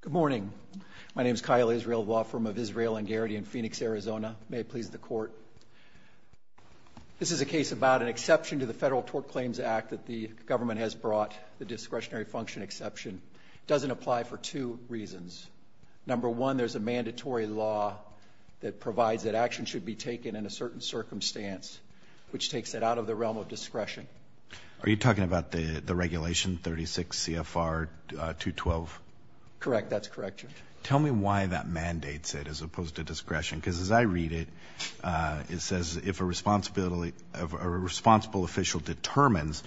Good morning. My name is Kyle Israel, law firm of Israel and Garrity in Phoenix, Arizona. May it please the court. This is a case about an exception to the Federal Tort Claims Act that the government has brought, the discretionary function exception. It doesn't apply for two reasons. Number one, there's a mandatory law that provides that action should be taken in a certain circumstance, which takes it out of the realm of discretion. Are you talking about the regulation 36 CFR 212? Correct. That's correct, Your Honor. Tell me why that mandates it as opposed to discretion. Because as I read it, it says if a responsible official determines,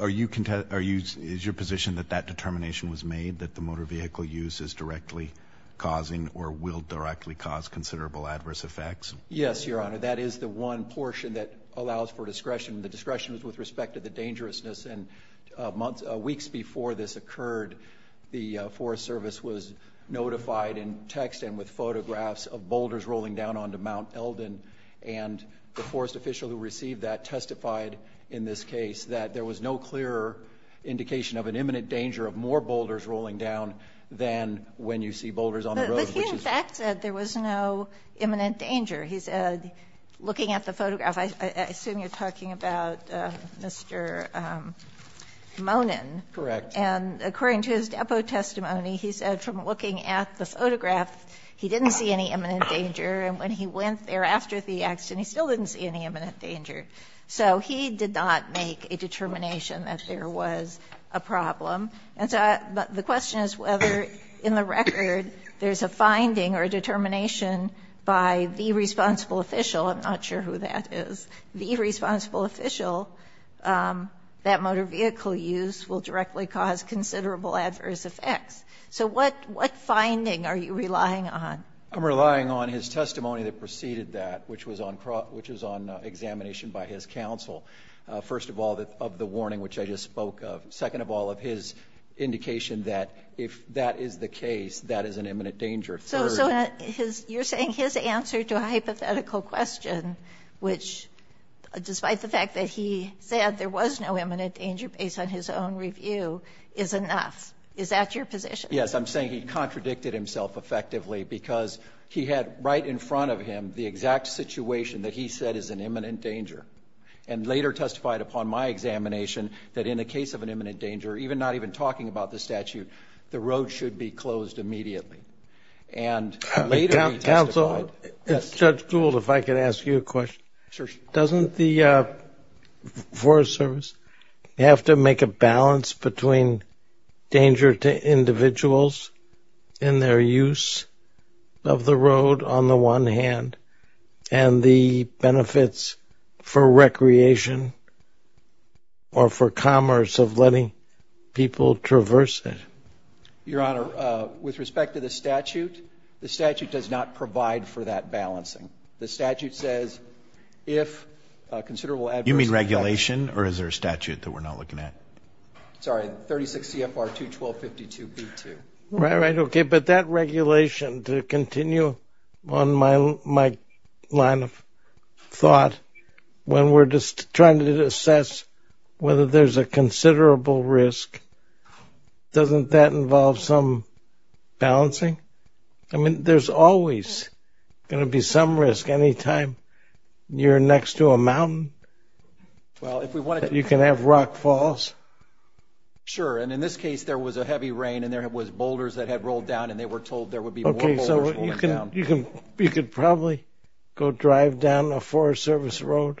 is your position that that determination was made that the motor vehicle use is directly causing or will directly cause considerable adverse effects? Yes, Your Honor. That is the one portion that allows for discretion. The discretion is with respect to the dangerousness. Weeks before this occurred, the Forest Service was notified in text and with photographs of boulders rolling down onto Mount Eldon. And the forest official who received that testified in this case that there was no clearer indication of an imminent danger of more boulders rolling down than when you see boulders on the road. But he in fact said there was no imminent danger. He said, looking at the photograph, I assume you're talking about Mr. Monin. Correct. And according to his depo testimony, he said from looking at the photograph, he didn't see any imminent danger. And when he went there after the accident, he still didn't see any imminent danger. So he did not make a determination that there was a problem. And so the question is whether in the record there's a finding or a determination by the responsible official, I'm not sure who that is, the responsible official that motor vehicle use will directly cause considerable adverse effects. So what finding are you relying on? I'm relying on his testimony that preceded that, which was on examination by his counsel. First of all, of the warning which I just spoke of. Second of all, of his indication that if that is the case, that is an imminent danger. Third. So you're saying his answer to a hypothetical question, which despite the fact that he said there was no imminent danger based on his own review, is enough. Is that your position? Yes. I'm saying he contradicted himself effectively because he had right in front of him the exact situation that he said is an imminent danger, and later testified upon my examination that in a case of an imminent danger, even not even talking about the statute, the road should be closed immediately. And later he testified. Counsel, Judge Gould, if I could ask you a question. Sure. Doesn't the Forest Service have to make a balance between danger to individuals in their use of the road on the one hand, and the benefits for recreation or for commerce of letting people traverse it? Your Honor, with respect to the statute, the statute does not provide for that balancing. The statute says if a considerable adverse... You mean regulation, or is there a statute that we're not looking at? Sorry. 36 CFR 21252B2. All right. Okay. But that regulation, to continue on my line of thought, when we're trying to assess whether there's a considerable risk, doesn't that involve some balancing? I mean, there's always going to be some risk anytime you're next to a mountain. Well, if we want to... You can have rock falls. Sure. And in this case, there was a heavy rain, and there was boulders that had rolled down, and they were told there would be more boulders rolling down. Okay. So you could probably go drive down a Forest Service road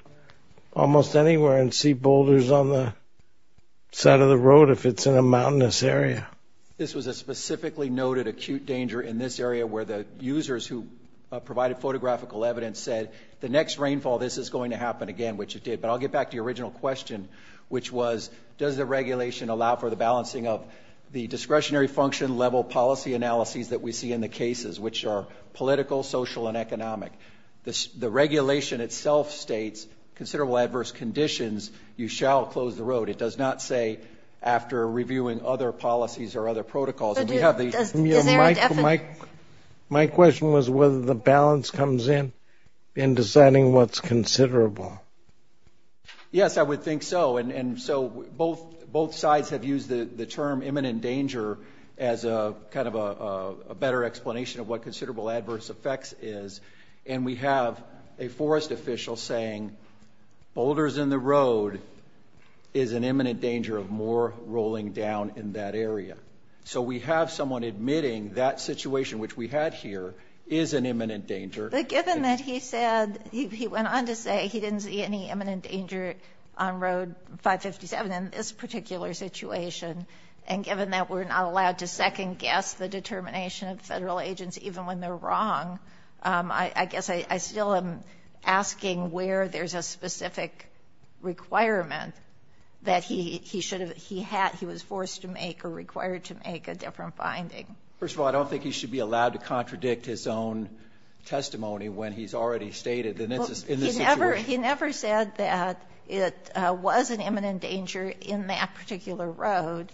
almost anywhere and see boulders on the side of the road if it's in a mountainous area. This was a specifically noted acute danger in this area where the users who provided photographical evidence said, the next rainfall, this is going to happen again, which it did. But I'll get back to your original question, which was, does the regulation allow for the balancing of the discretionary function level policy analyses that we see in the cases, which are political, social, and economic? The regulation itself states, considerable adverse conditions, you shall close the road. It does not say after reviewing other policies or other protocols. Does there a definite... My question was whether the balance comes in in deciding what's considerable. Yes, I would think so. And so both sides have used the term imminent danger as kind of a better explanation of what considerable adverse effects is. And we have a forest official saying, boulders in the road is an imminent danger of more rolling down in that area. So we have someone admitting that situation, which we had here, is an imminent danger. But given that he said, he went on to say he didn't see any imminent danger on Road 557 in this particular situation, and given that we're not allowed to make a determination of Federal agents even when they're wrong, I guess I still am asking where there's a specific requirement that he should have, he had, he was forced to make or required to make a different finding. First of all, I don't think he should be allowed to contradict his own testimony when he's already stated in this situation. He never said that it was an imminent danger in that particular road.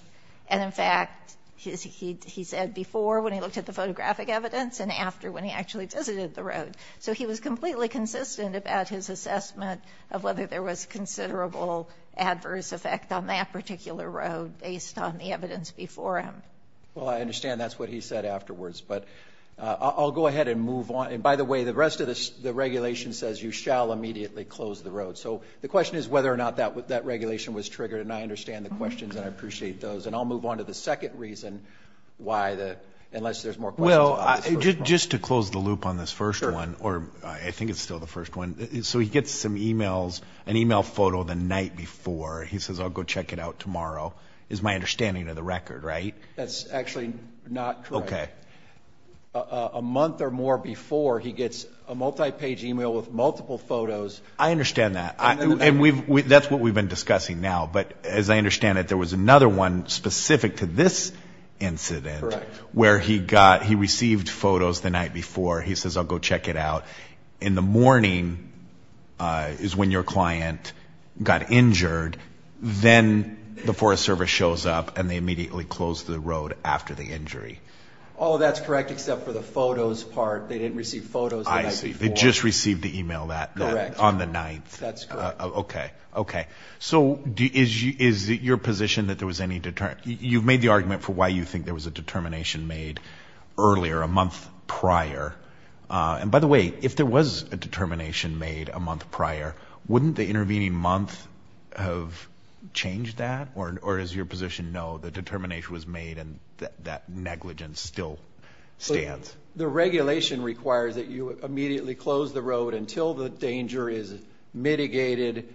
And in fact, he said before when he looked at the photographic evidence and after when he actually visited the road. So he was completely consistent about his assessment of whether there was considerable adverse effect on that particular road based on the evidence before him. Well, I understand that's what he said afterwards. But I'll go ahead and move on. And by the way, the rest of the regulation says you shall immediately close the road. So the question is whether or not that regulation was triggered. And I understand the questions, and I appreciate those. And I'll move on to the second reason why the, unless there's more questions. Well, just to close the loop on this first one, or I think it's still the first one. So he gets some emails, an email photo the night before. He says, I'll go check it out tomorrow, is my understanding of the record, right? That's actually not correct. Okay. A month or more before, he gets a multi-page email with multiple photos. I understand that. And that's what we've been discussing now. But as I understand it, there was another one specific to this incident. Correct. Where he got, he received photos the night before. He says, I'll go check it out in the morning, is when your client got injured. Then the Forest Service shows up, and they immediately close the road after the injury. Oh, that's correct, except for the photos part. They didn't receive photos the night before. I see. They just received the email on the 9th. That's correct. Okay. Okay. So is it your position that there was any, you've made the argument for why you think there was a determination made earlier, a month prior. And by the way, if there was a determination made a month prior, wouldn't the intervening month have changed that? Or is your position, no, the determination was made and that negligence still stands? The regulation requires that you immediately close the road until the danger is mitigated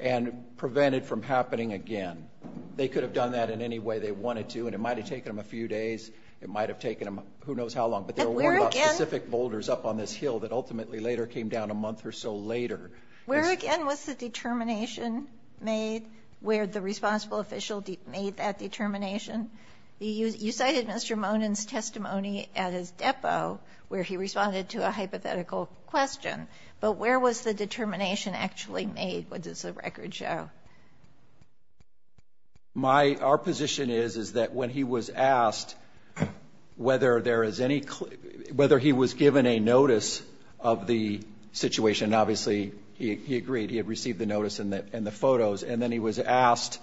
and prevented from happening again. They could have done that in any way they wanted to, and it might have taken them a few days. It might have taken them who knows how long. But there were specific boulders up on this hill that ultimately later came down a month or so later. Where again was the determination made where the responsible official made that determination? You cited Mr. Monin's testimony at his depot where he responded to a hypothetical question. But where was the determination actually made? What does the record show? My, our position is, is that when he was asked whether there is any, whether he was given a notice of the situation, obviously he agreed. He had received the notice and the photos. And then he was asked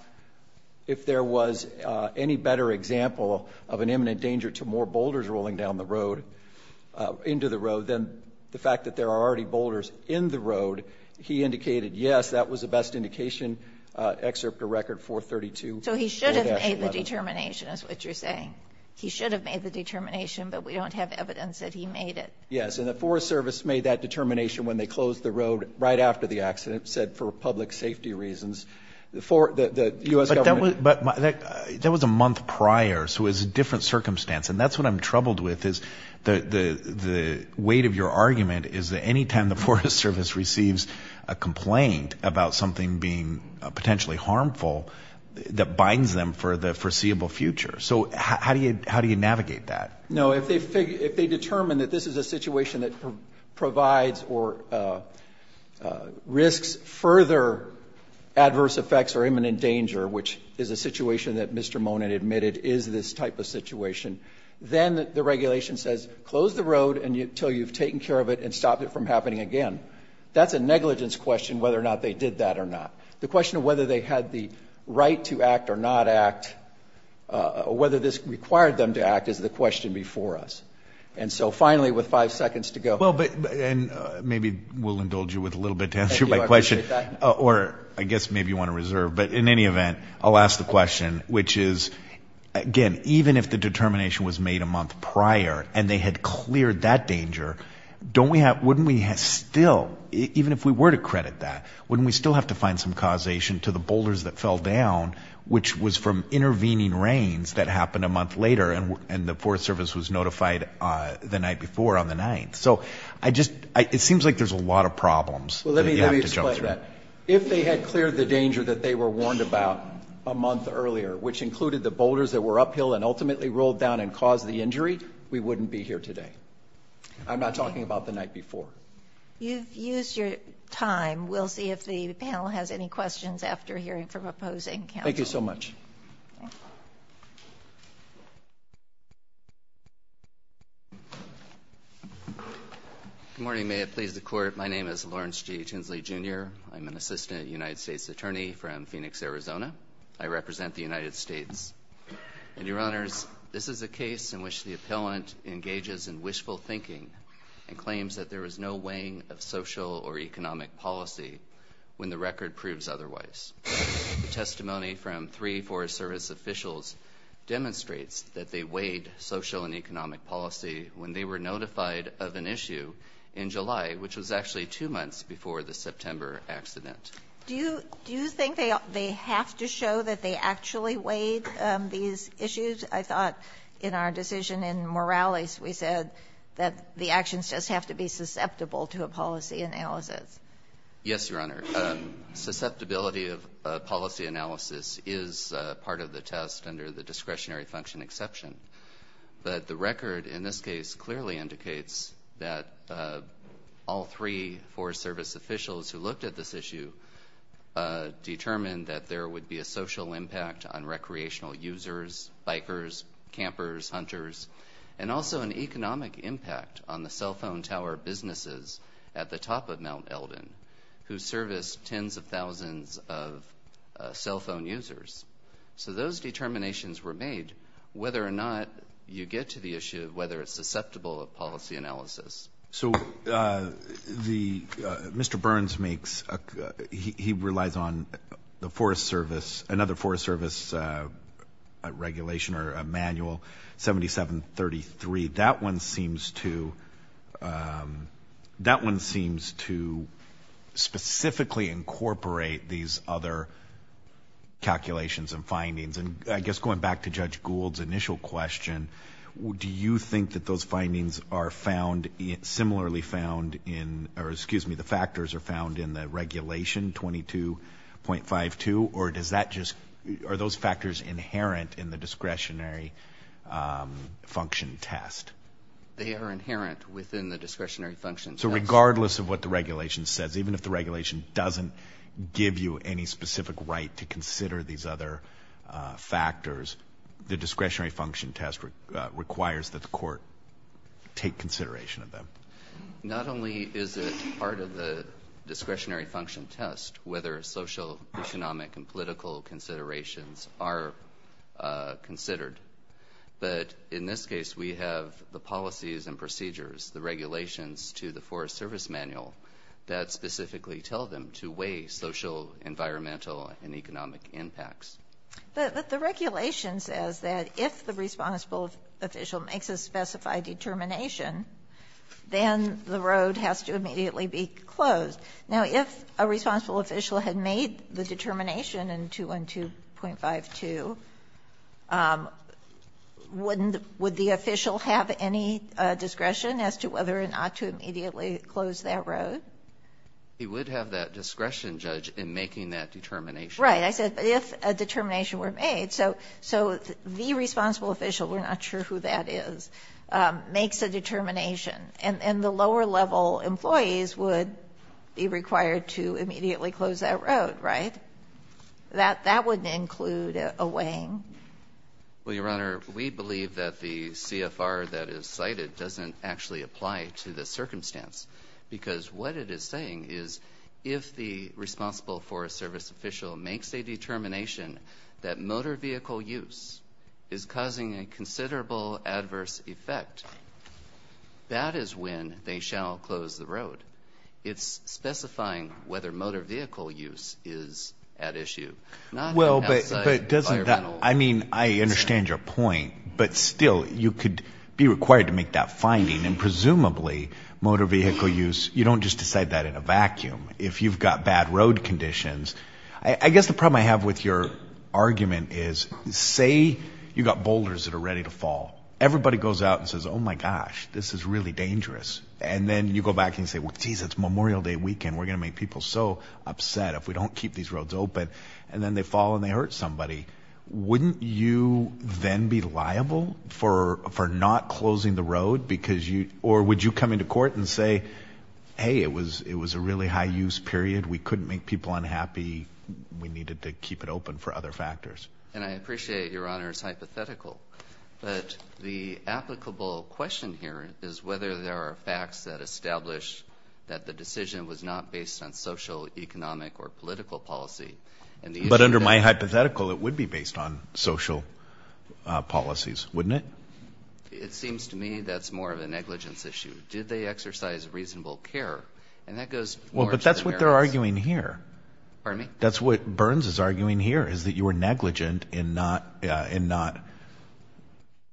if there was any better example of an imminent danger to more boulders rolling down the road, into the road, than the fact that there are already boulders in the road. He indicated, yes, that was the best indication, excerpt of record 432. So he should have made the determination is what you're saying. He should have made the determination, but we don't have evidence that he made it. Yes. And the Forest Service made that determination when they closed the road right after the accident, said for public safety reasons, the U.S. government. But that was a month prior, so it was a different circumstance. And that's what I'm troubled with is the weight of your argument is that any time the Forest Service receives a complaint about something being potentially harmful, that binds them for the foreseeable future. So how do you navigate that? No. If they determine that this is a situation that provides or risks further adverse effects or imminent danger, which is a situation that Mr. Monin admitted is this type of situation, then the regulation says close the road until you've taken care of it and stopped it from happening again. That's a negligence question whether or not they did that or not. The question of whether they had the right to act or not act, whether this required them to act is the question before us. And so finally, with five seconds to go. Well, but, and maybe we'll indulge you with a little bit to answer my question. Or I guess maybe you want to reserve. But in any event, I'll ask the question, which is, again, even if the determination was made a month prior and they had cleared that danger, don't we have, wouldn't we still, even if we were to credit that, wouldn't we still have to find some causation to the boulders that fell down, which was from intervening rains that occurred and the Forest Service was notified the night before on the 9th? So I just, it seems like there's a lot of problems. Well, let me explain that. If they had cleared the danger that they were warned about a month earlier, which included the boulders that were uphill and ultimately rolled down and caused the injury, we wouldn't be here today. I'm not talking about the night before. You've used your time. We'll see if the panel has any questions after hearing from opposing counsel. Thank you so much. Good morning. May it please the Court. My name is Lawrence G. Tinsley, Jr. I'm an assistant United States attorney from Phoenix, Arizona. I represent the United States. And, Your Honors, this is a case in which the appellant engages in wishful thinking and claims that there is no weighing of social or economic policy when the record proves otherwise. The testimony from three Forest Service officials demonstrates that they weighed social and economic policy when they were notified of an issue in July, which was actually two months before the September accident. Do you think they have to show that they actually weighed these issues? I thought in our decision in Morales we said that the actions just have to be susceptible to a policy analysis. Yes, Your Honor. Susceptibility of policy analysis is part of the test under the discretionary function exception. But the record in this case clearly indicates that all three Forest Service officials who looked at this issue determined that there would be a social impact on recreational users, bikers, campers, hunters, and also an economic impact on the cell phone tower businesses at the top of the list, tens of thousands of cell phone users. So those determinations were made whether or not you get to the issue of whether it's susceptible of policy analysis. So Mr. Burns makes he relies on the Forest Service, another Forest Service regulation or a manual, 7733. That one seems to specifically incorporate these other calculations and findings. And I guess going back to Judge Gould's initial question, do you think that those findings are found, similarly found in, or excuse me, the factors are found in the regulation 22.52, or does that just, are those factors inherent in the discretionary function test? They are inherent within the discretionary function test. So regardless of what the regulation says, even if the regulation doesn't give you any specific right to consider these other factors, the discretionary function test requires that the court take consideration of them. Not only is it part of the discretionary function test, whether social, economic, and political considerations are considered, but in this case we have the policies and procedures, the regulations to the Forest Service manual that specifically tell them to weigh social, environmental, and economic impacts. But the regulation says that if the responsible official makes a specified determination, then the road has to immediately be closed. Now, if a responsible official had made the determination in 212.52, wouldn't the, would the official have any discretion as to whether or not to immediately close that road? He would have that discretion, Judge, in making that determination. Right. I said if a determination were made. So the responsible official, we're not sure who that is, makes a determination. And the lower level employees would be required to immediately close that road, right? That wouldn't include a weighing. Well, Your Honor, we believe that the CFR that is cited doesn't actually apply to the circumstance, because what it is saying is if the responsible Forest Service official makes a determination that motor vehicle use is causing a considerable adverse effect, that is when they shall close the road. It's specifying whether motor vehicle use is at issue. Well, but doesn't that, I mean, I understand your point, but still, you could be required to make that finding. And presumably, motor vehicle use, you don't just decide that in a vacuum. If you've got bad road conditions, I guess the problem I have with your argument is say you've got boulders that are ready to fall. Everybody goes out and says, oh, my gosh, this is really dangerous. And then you go back and say, well, geez, it's Memorial Day weekend. We're going to make people so upset if we don't keep these roads open. And then they fall and they hurt somebody. Wouldn't you then be liable for not closing the road? Or would you come into court and say, hey, it was a really high use period. We couldn't make people unhappy. We needed to keep it open for other factors. And I appreciate Your Honor's hypothetical. But the applicable question here is whether there are facts that establish that the decision was not based on social, economic, or political policy. But under my hypothetical, it would be based on social policies, wouldn't it? It seems to me that's more of a negligence issue. Did they exercise reasonable care? And that goes more to the merits. Well, but that's what they're arguing here. Pardon me? That's what Burns is arguing here, is that you were negligent in not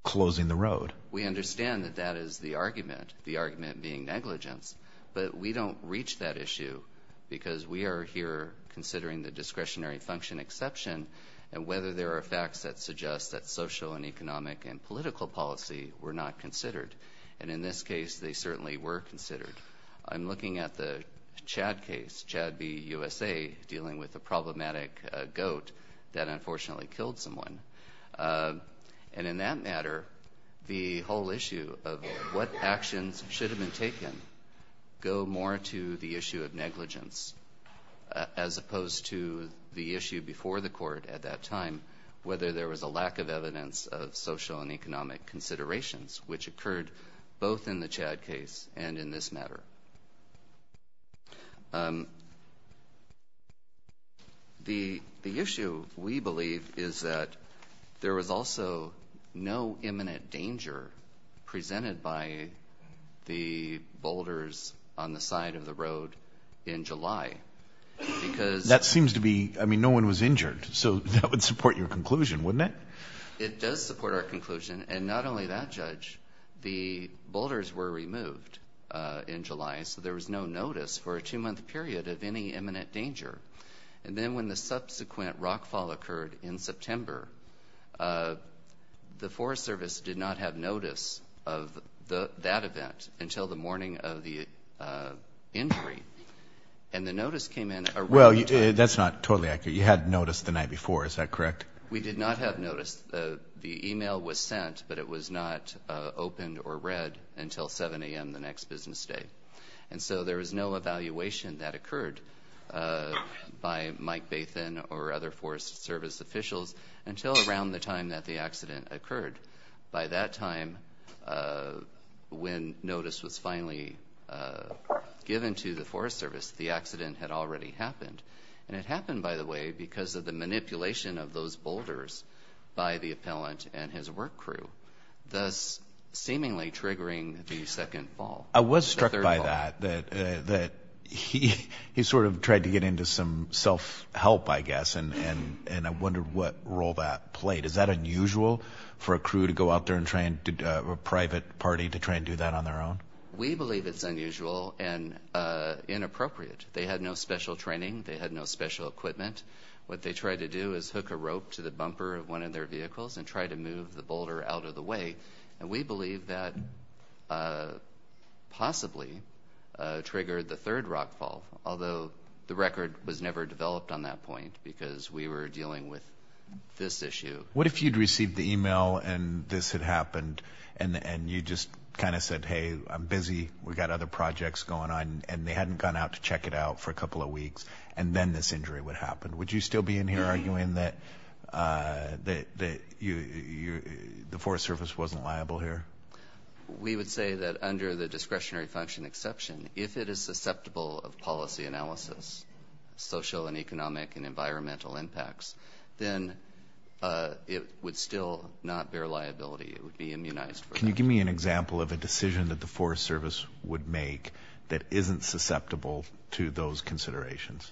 closing the road. We understand that that is the argument, the argument being negligence. But we don't reach that issue because we are here considering the discretionary function exception and whether there are facts that suggest that social and economic and political policy were not considered. And in this case, they certainly were considered. I'm looking at the Chad case, Chad v. USA, dealing with the problematic goat that unfortunately killed someone. And in that matter, the whole issue of what actions should have been taken go more to the issue of negligence as opposed to the issue before the court at that time, whether there was a lack of evidence of social and economic considerations, which occurred both in the Chad case and in this matter. The issue, we believe, is that there was also no imminent danger presented by the boulders on the side of the road in July because That seems to be, I mean, no one was injured. So that would support your conclusion, wouldn't it? It does support our conclusion. And not only that, Judge, the boulders were removed in July, so there was no notice for a two-month period of any imminent danger. And then when the subsequent rockfall occurred in September, the Forest Service did not have notice of that event until the morning of the injury. And the notice came in around that time. Well, that's not totally accurate. You had notice the night before, is that correct? We did not have notice. The email was sent, but it was not opened or read until 7 a.m. the next business day. And so there was no evaluation that occurred by Mike Bathan or other Forest Service officials until around the time that the accident occurred. By that time, when notice was finally given to the Forest Service, the accident had already happened. And it happened, by the way, because of the manipulation of those boulders by the appellant and his work crew, thus seemingly triggering the second fall, the third fall. I was struck by that, that he sort of tried to get into some self-help, I guess, and I wondered what role that played. Is that unusual for a crew to go out there and try and do a private party to try and do that on their own? We believe it's unusual and inappropriate. They had no special training. They had no special equipment. What they tried to do is hook a rope to the bumper of one of their vehicles and try to move the boulder out of the way. And we believe that possibly triggered the third rock fall, although the record was never developed on that point because we were dealing with this issue. What if you'd received the email and this had happened and you just kind of said, hey, I'm busy, we've got other projects going on, and they hadn't gone out to check it out for a couple of weeks and then this injury would happen? Would you still be in here arguing that the Forest Service wasn't liable here? We would say that under the discretionary function exception, if it is susceptible of policy analysis, social and economic and environmental impacts, then it would still not bear liability. It would be immunized. Can you give me an example of a decision that the Forest Service would make that isn't susceptible to those considerations?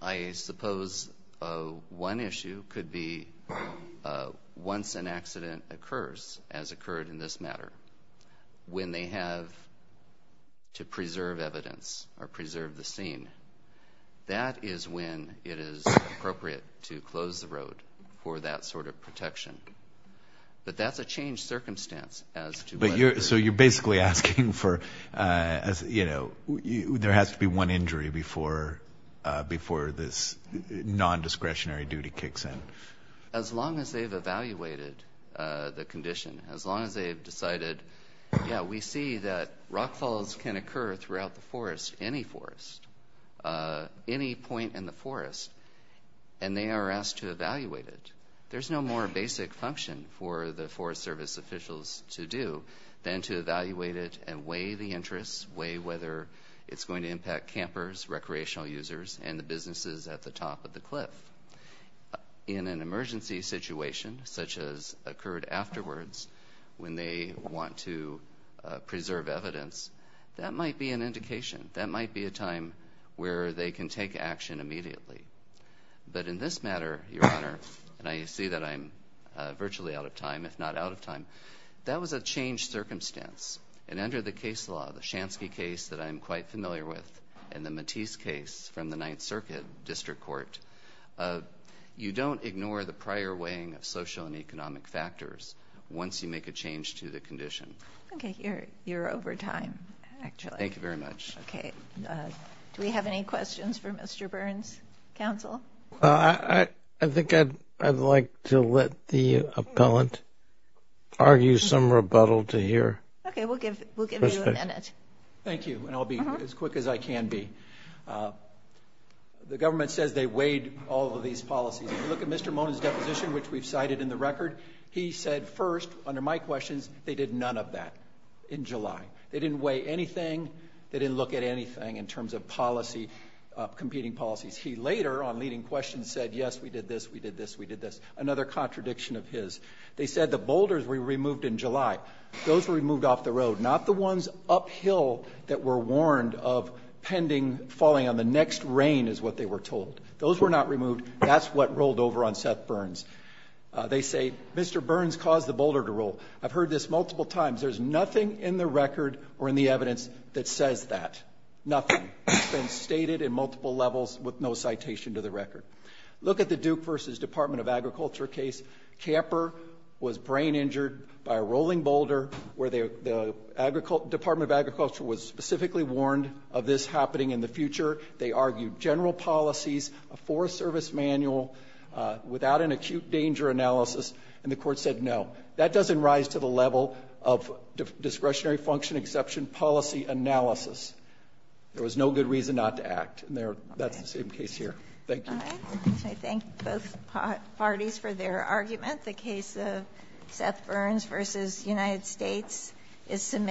I suppose one issue could be once an accident occurs, as occurred in this matter, when they have to preserve evidence or preserve the scene, that is when it is appropriate to close the road for that sort of protection. But that's a changed circumstance. So you're basically asking for, you know, there has to be one injury before this nondiscretionary duty kicks in. As long as they've evaluated the condition, as long as they've decided, yeah, we see that rock falls can occur throughout the forest, any forest, any point in the forest, and they are asked to evaluate it. There's no more basic function for the Forest Service officials to do than to evaluate it and weigh the interests, weigh whether it's going to impact campers, recreational users, and the businesses at the top of the cliff. In an emergency situation, such as occurred afterwards, when they want to preserve evidence, that might be an indication. That might be a time where they can take action immediately. But in this matter, Your Honor, and I see that I'm virtually out of time, if not out of time, that was a changed circumstance. And under the case law, the Shansky case that I'm quite familiar with and the Matisse case from the Ninth Circuit District Court, you don't ignore the prior weighing of social and economic factors once you make a change to the condition. Okay, you're over time, actually. Thank you very much. Okay. Do we have any questions for Mr. Burns, counsel? I think I'd like to let the appellant argue some rebuttal to hear. Okay, we'll give you a minute. Thank you, and I'll be as quick as I can be. The government says they weighed all of these policies. If you look at Mr. Mona's deposition, which we've cited in the record, he said first, under my questions, they did none of that in July. They didn't weigh anything. They didn't look at anything in terms of policy, competing policies. He later, on leading questions, said, yes, we did this, we did this, we did this, another contradiction of his. They said the boulders were removed in July. Those were removed off the road, not the ones uphill that were warned of pending, falling on the next rain is what they were told. Those were not removed. That's what rolled over on Seth Burns. They say Mr. Burns caused the boulder to roll. I've heard this multiple times. There's nothing in the record or in the evidence that says that, nothing. It's been stated in multiple levels with no citation to the record. Look at the Duke v. Department of Agriculture case. Camper was brain injured by a rolling boulder where the Department of Agriculture was specifically warned of this happening in the future. They argued general policies, a Forest Service manual without an acute danger analysis, and the Court said no. That doesn't rise to the level of discretionary function exception policy analysis. There was no good reason not to act. And that's the same case here. Thank you. All right. I thank both parties for their argument. The case of Seth Burns v. United States is submitted.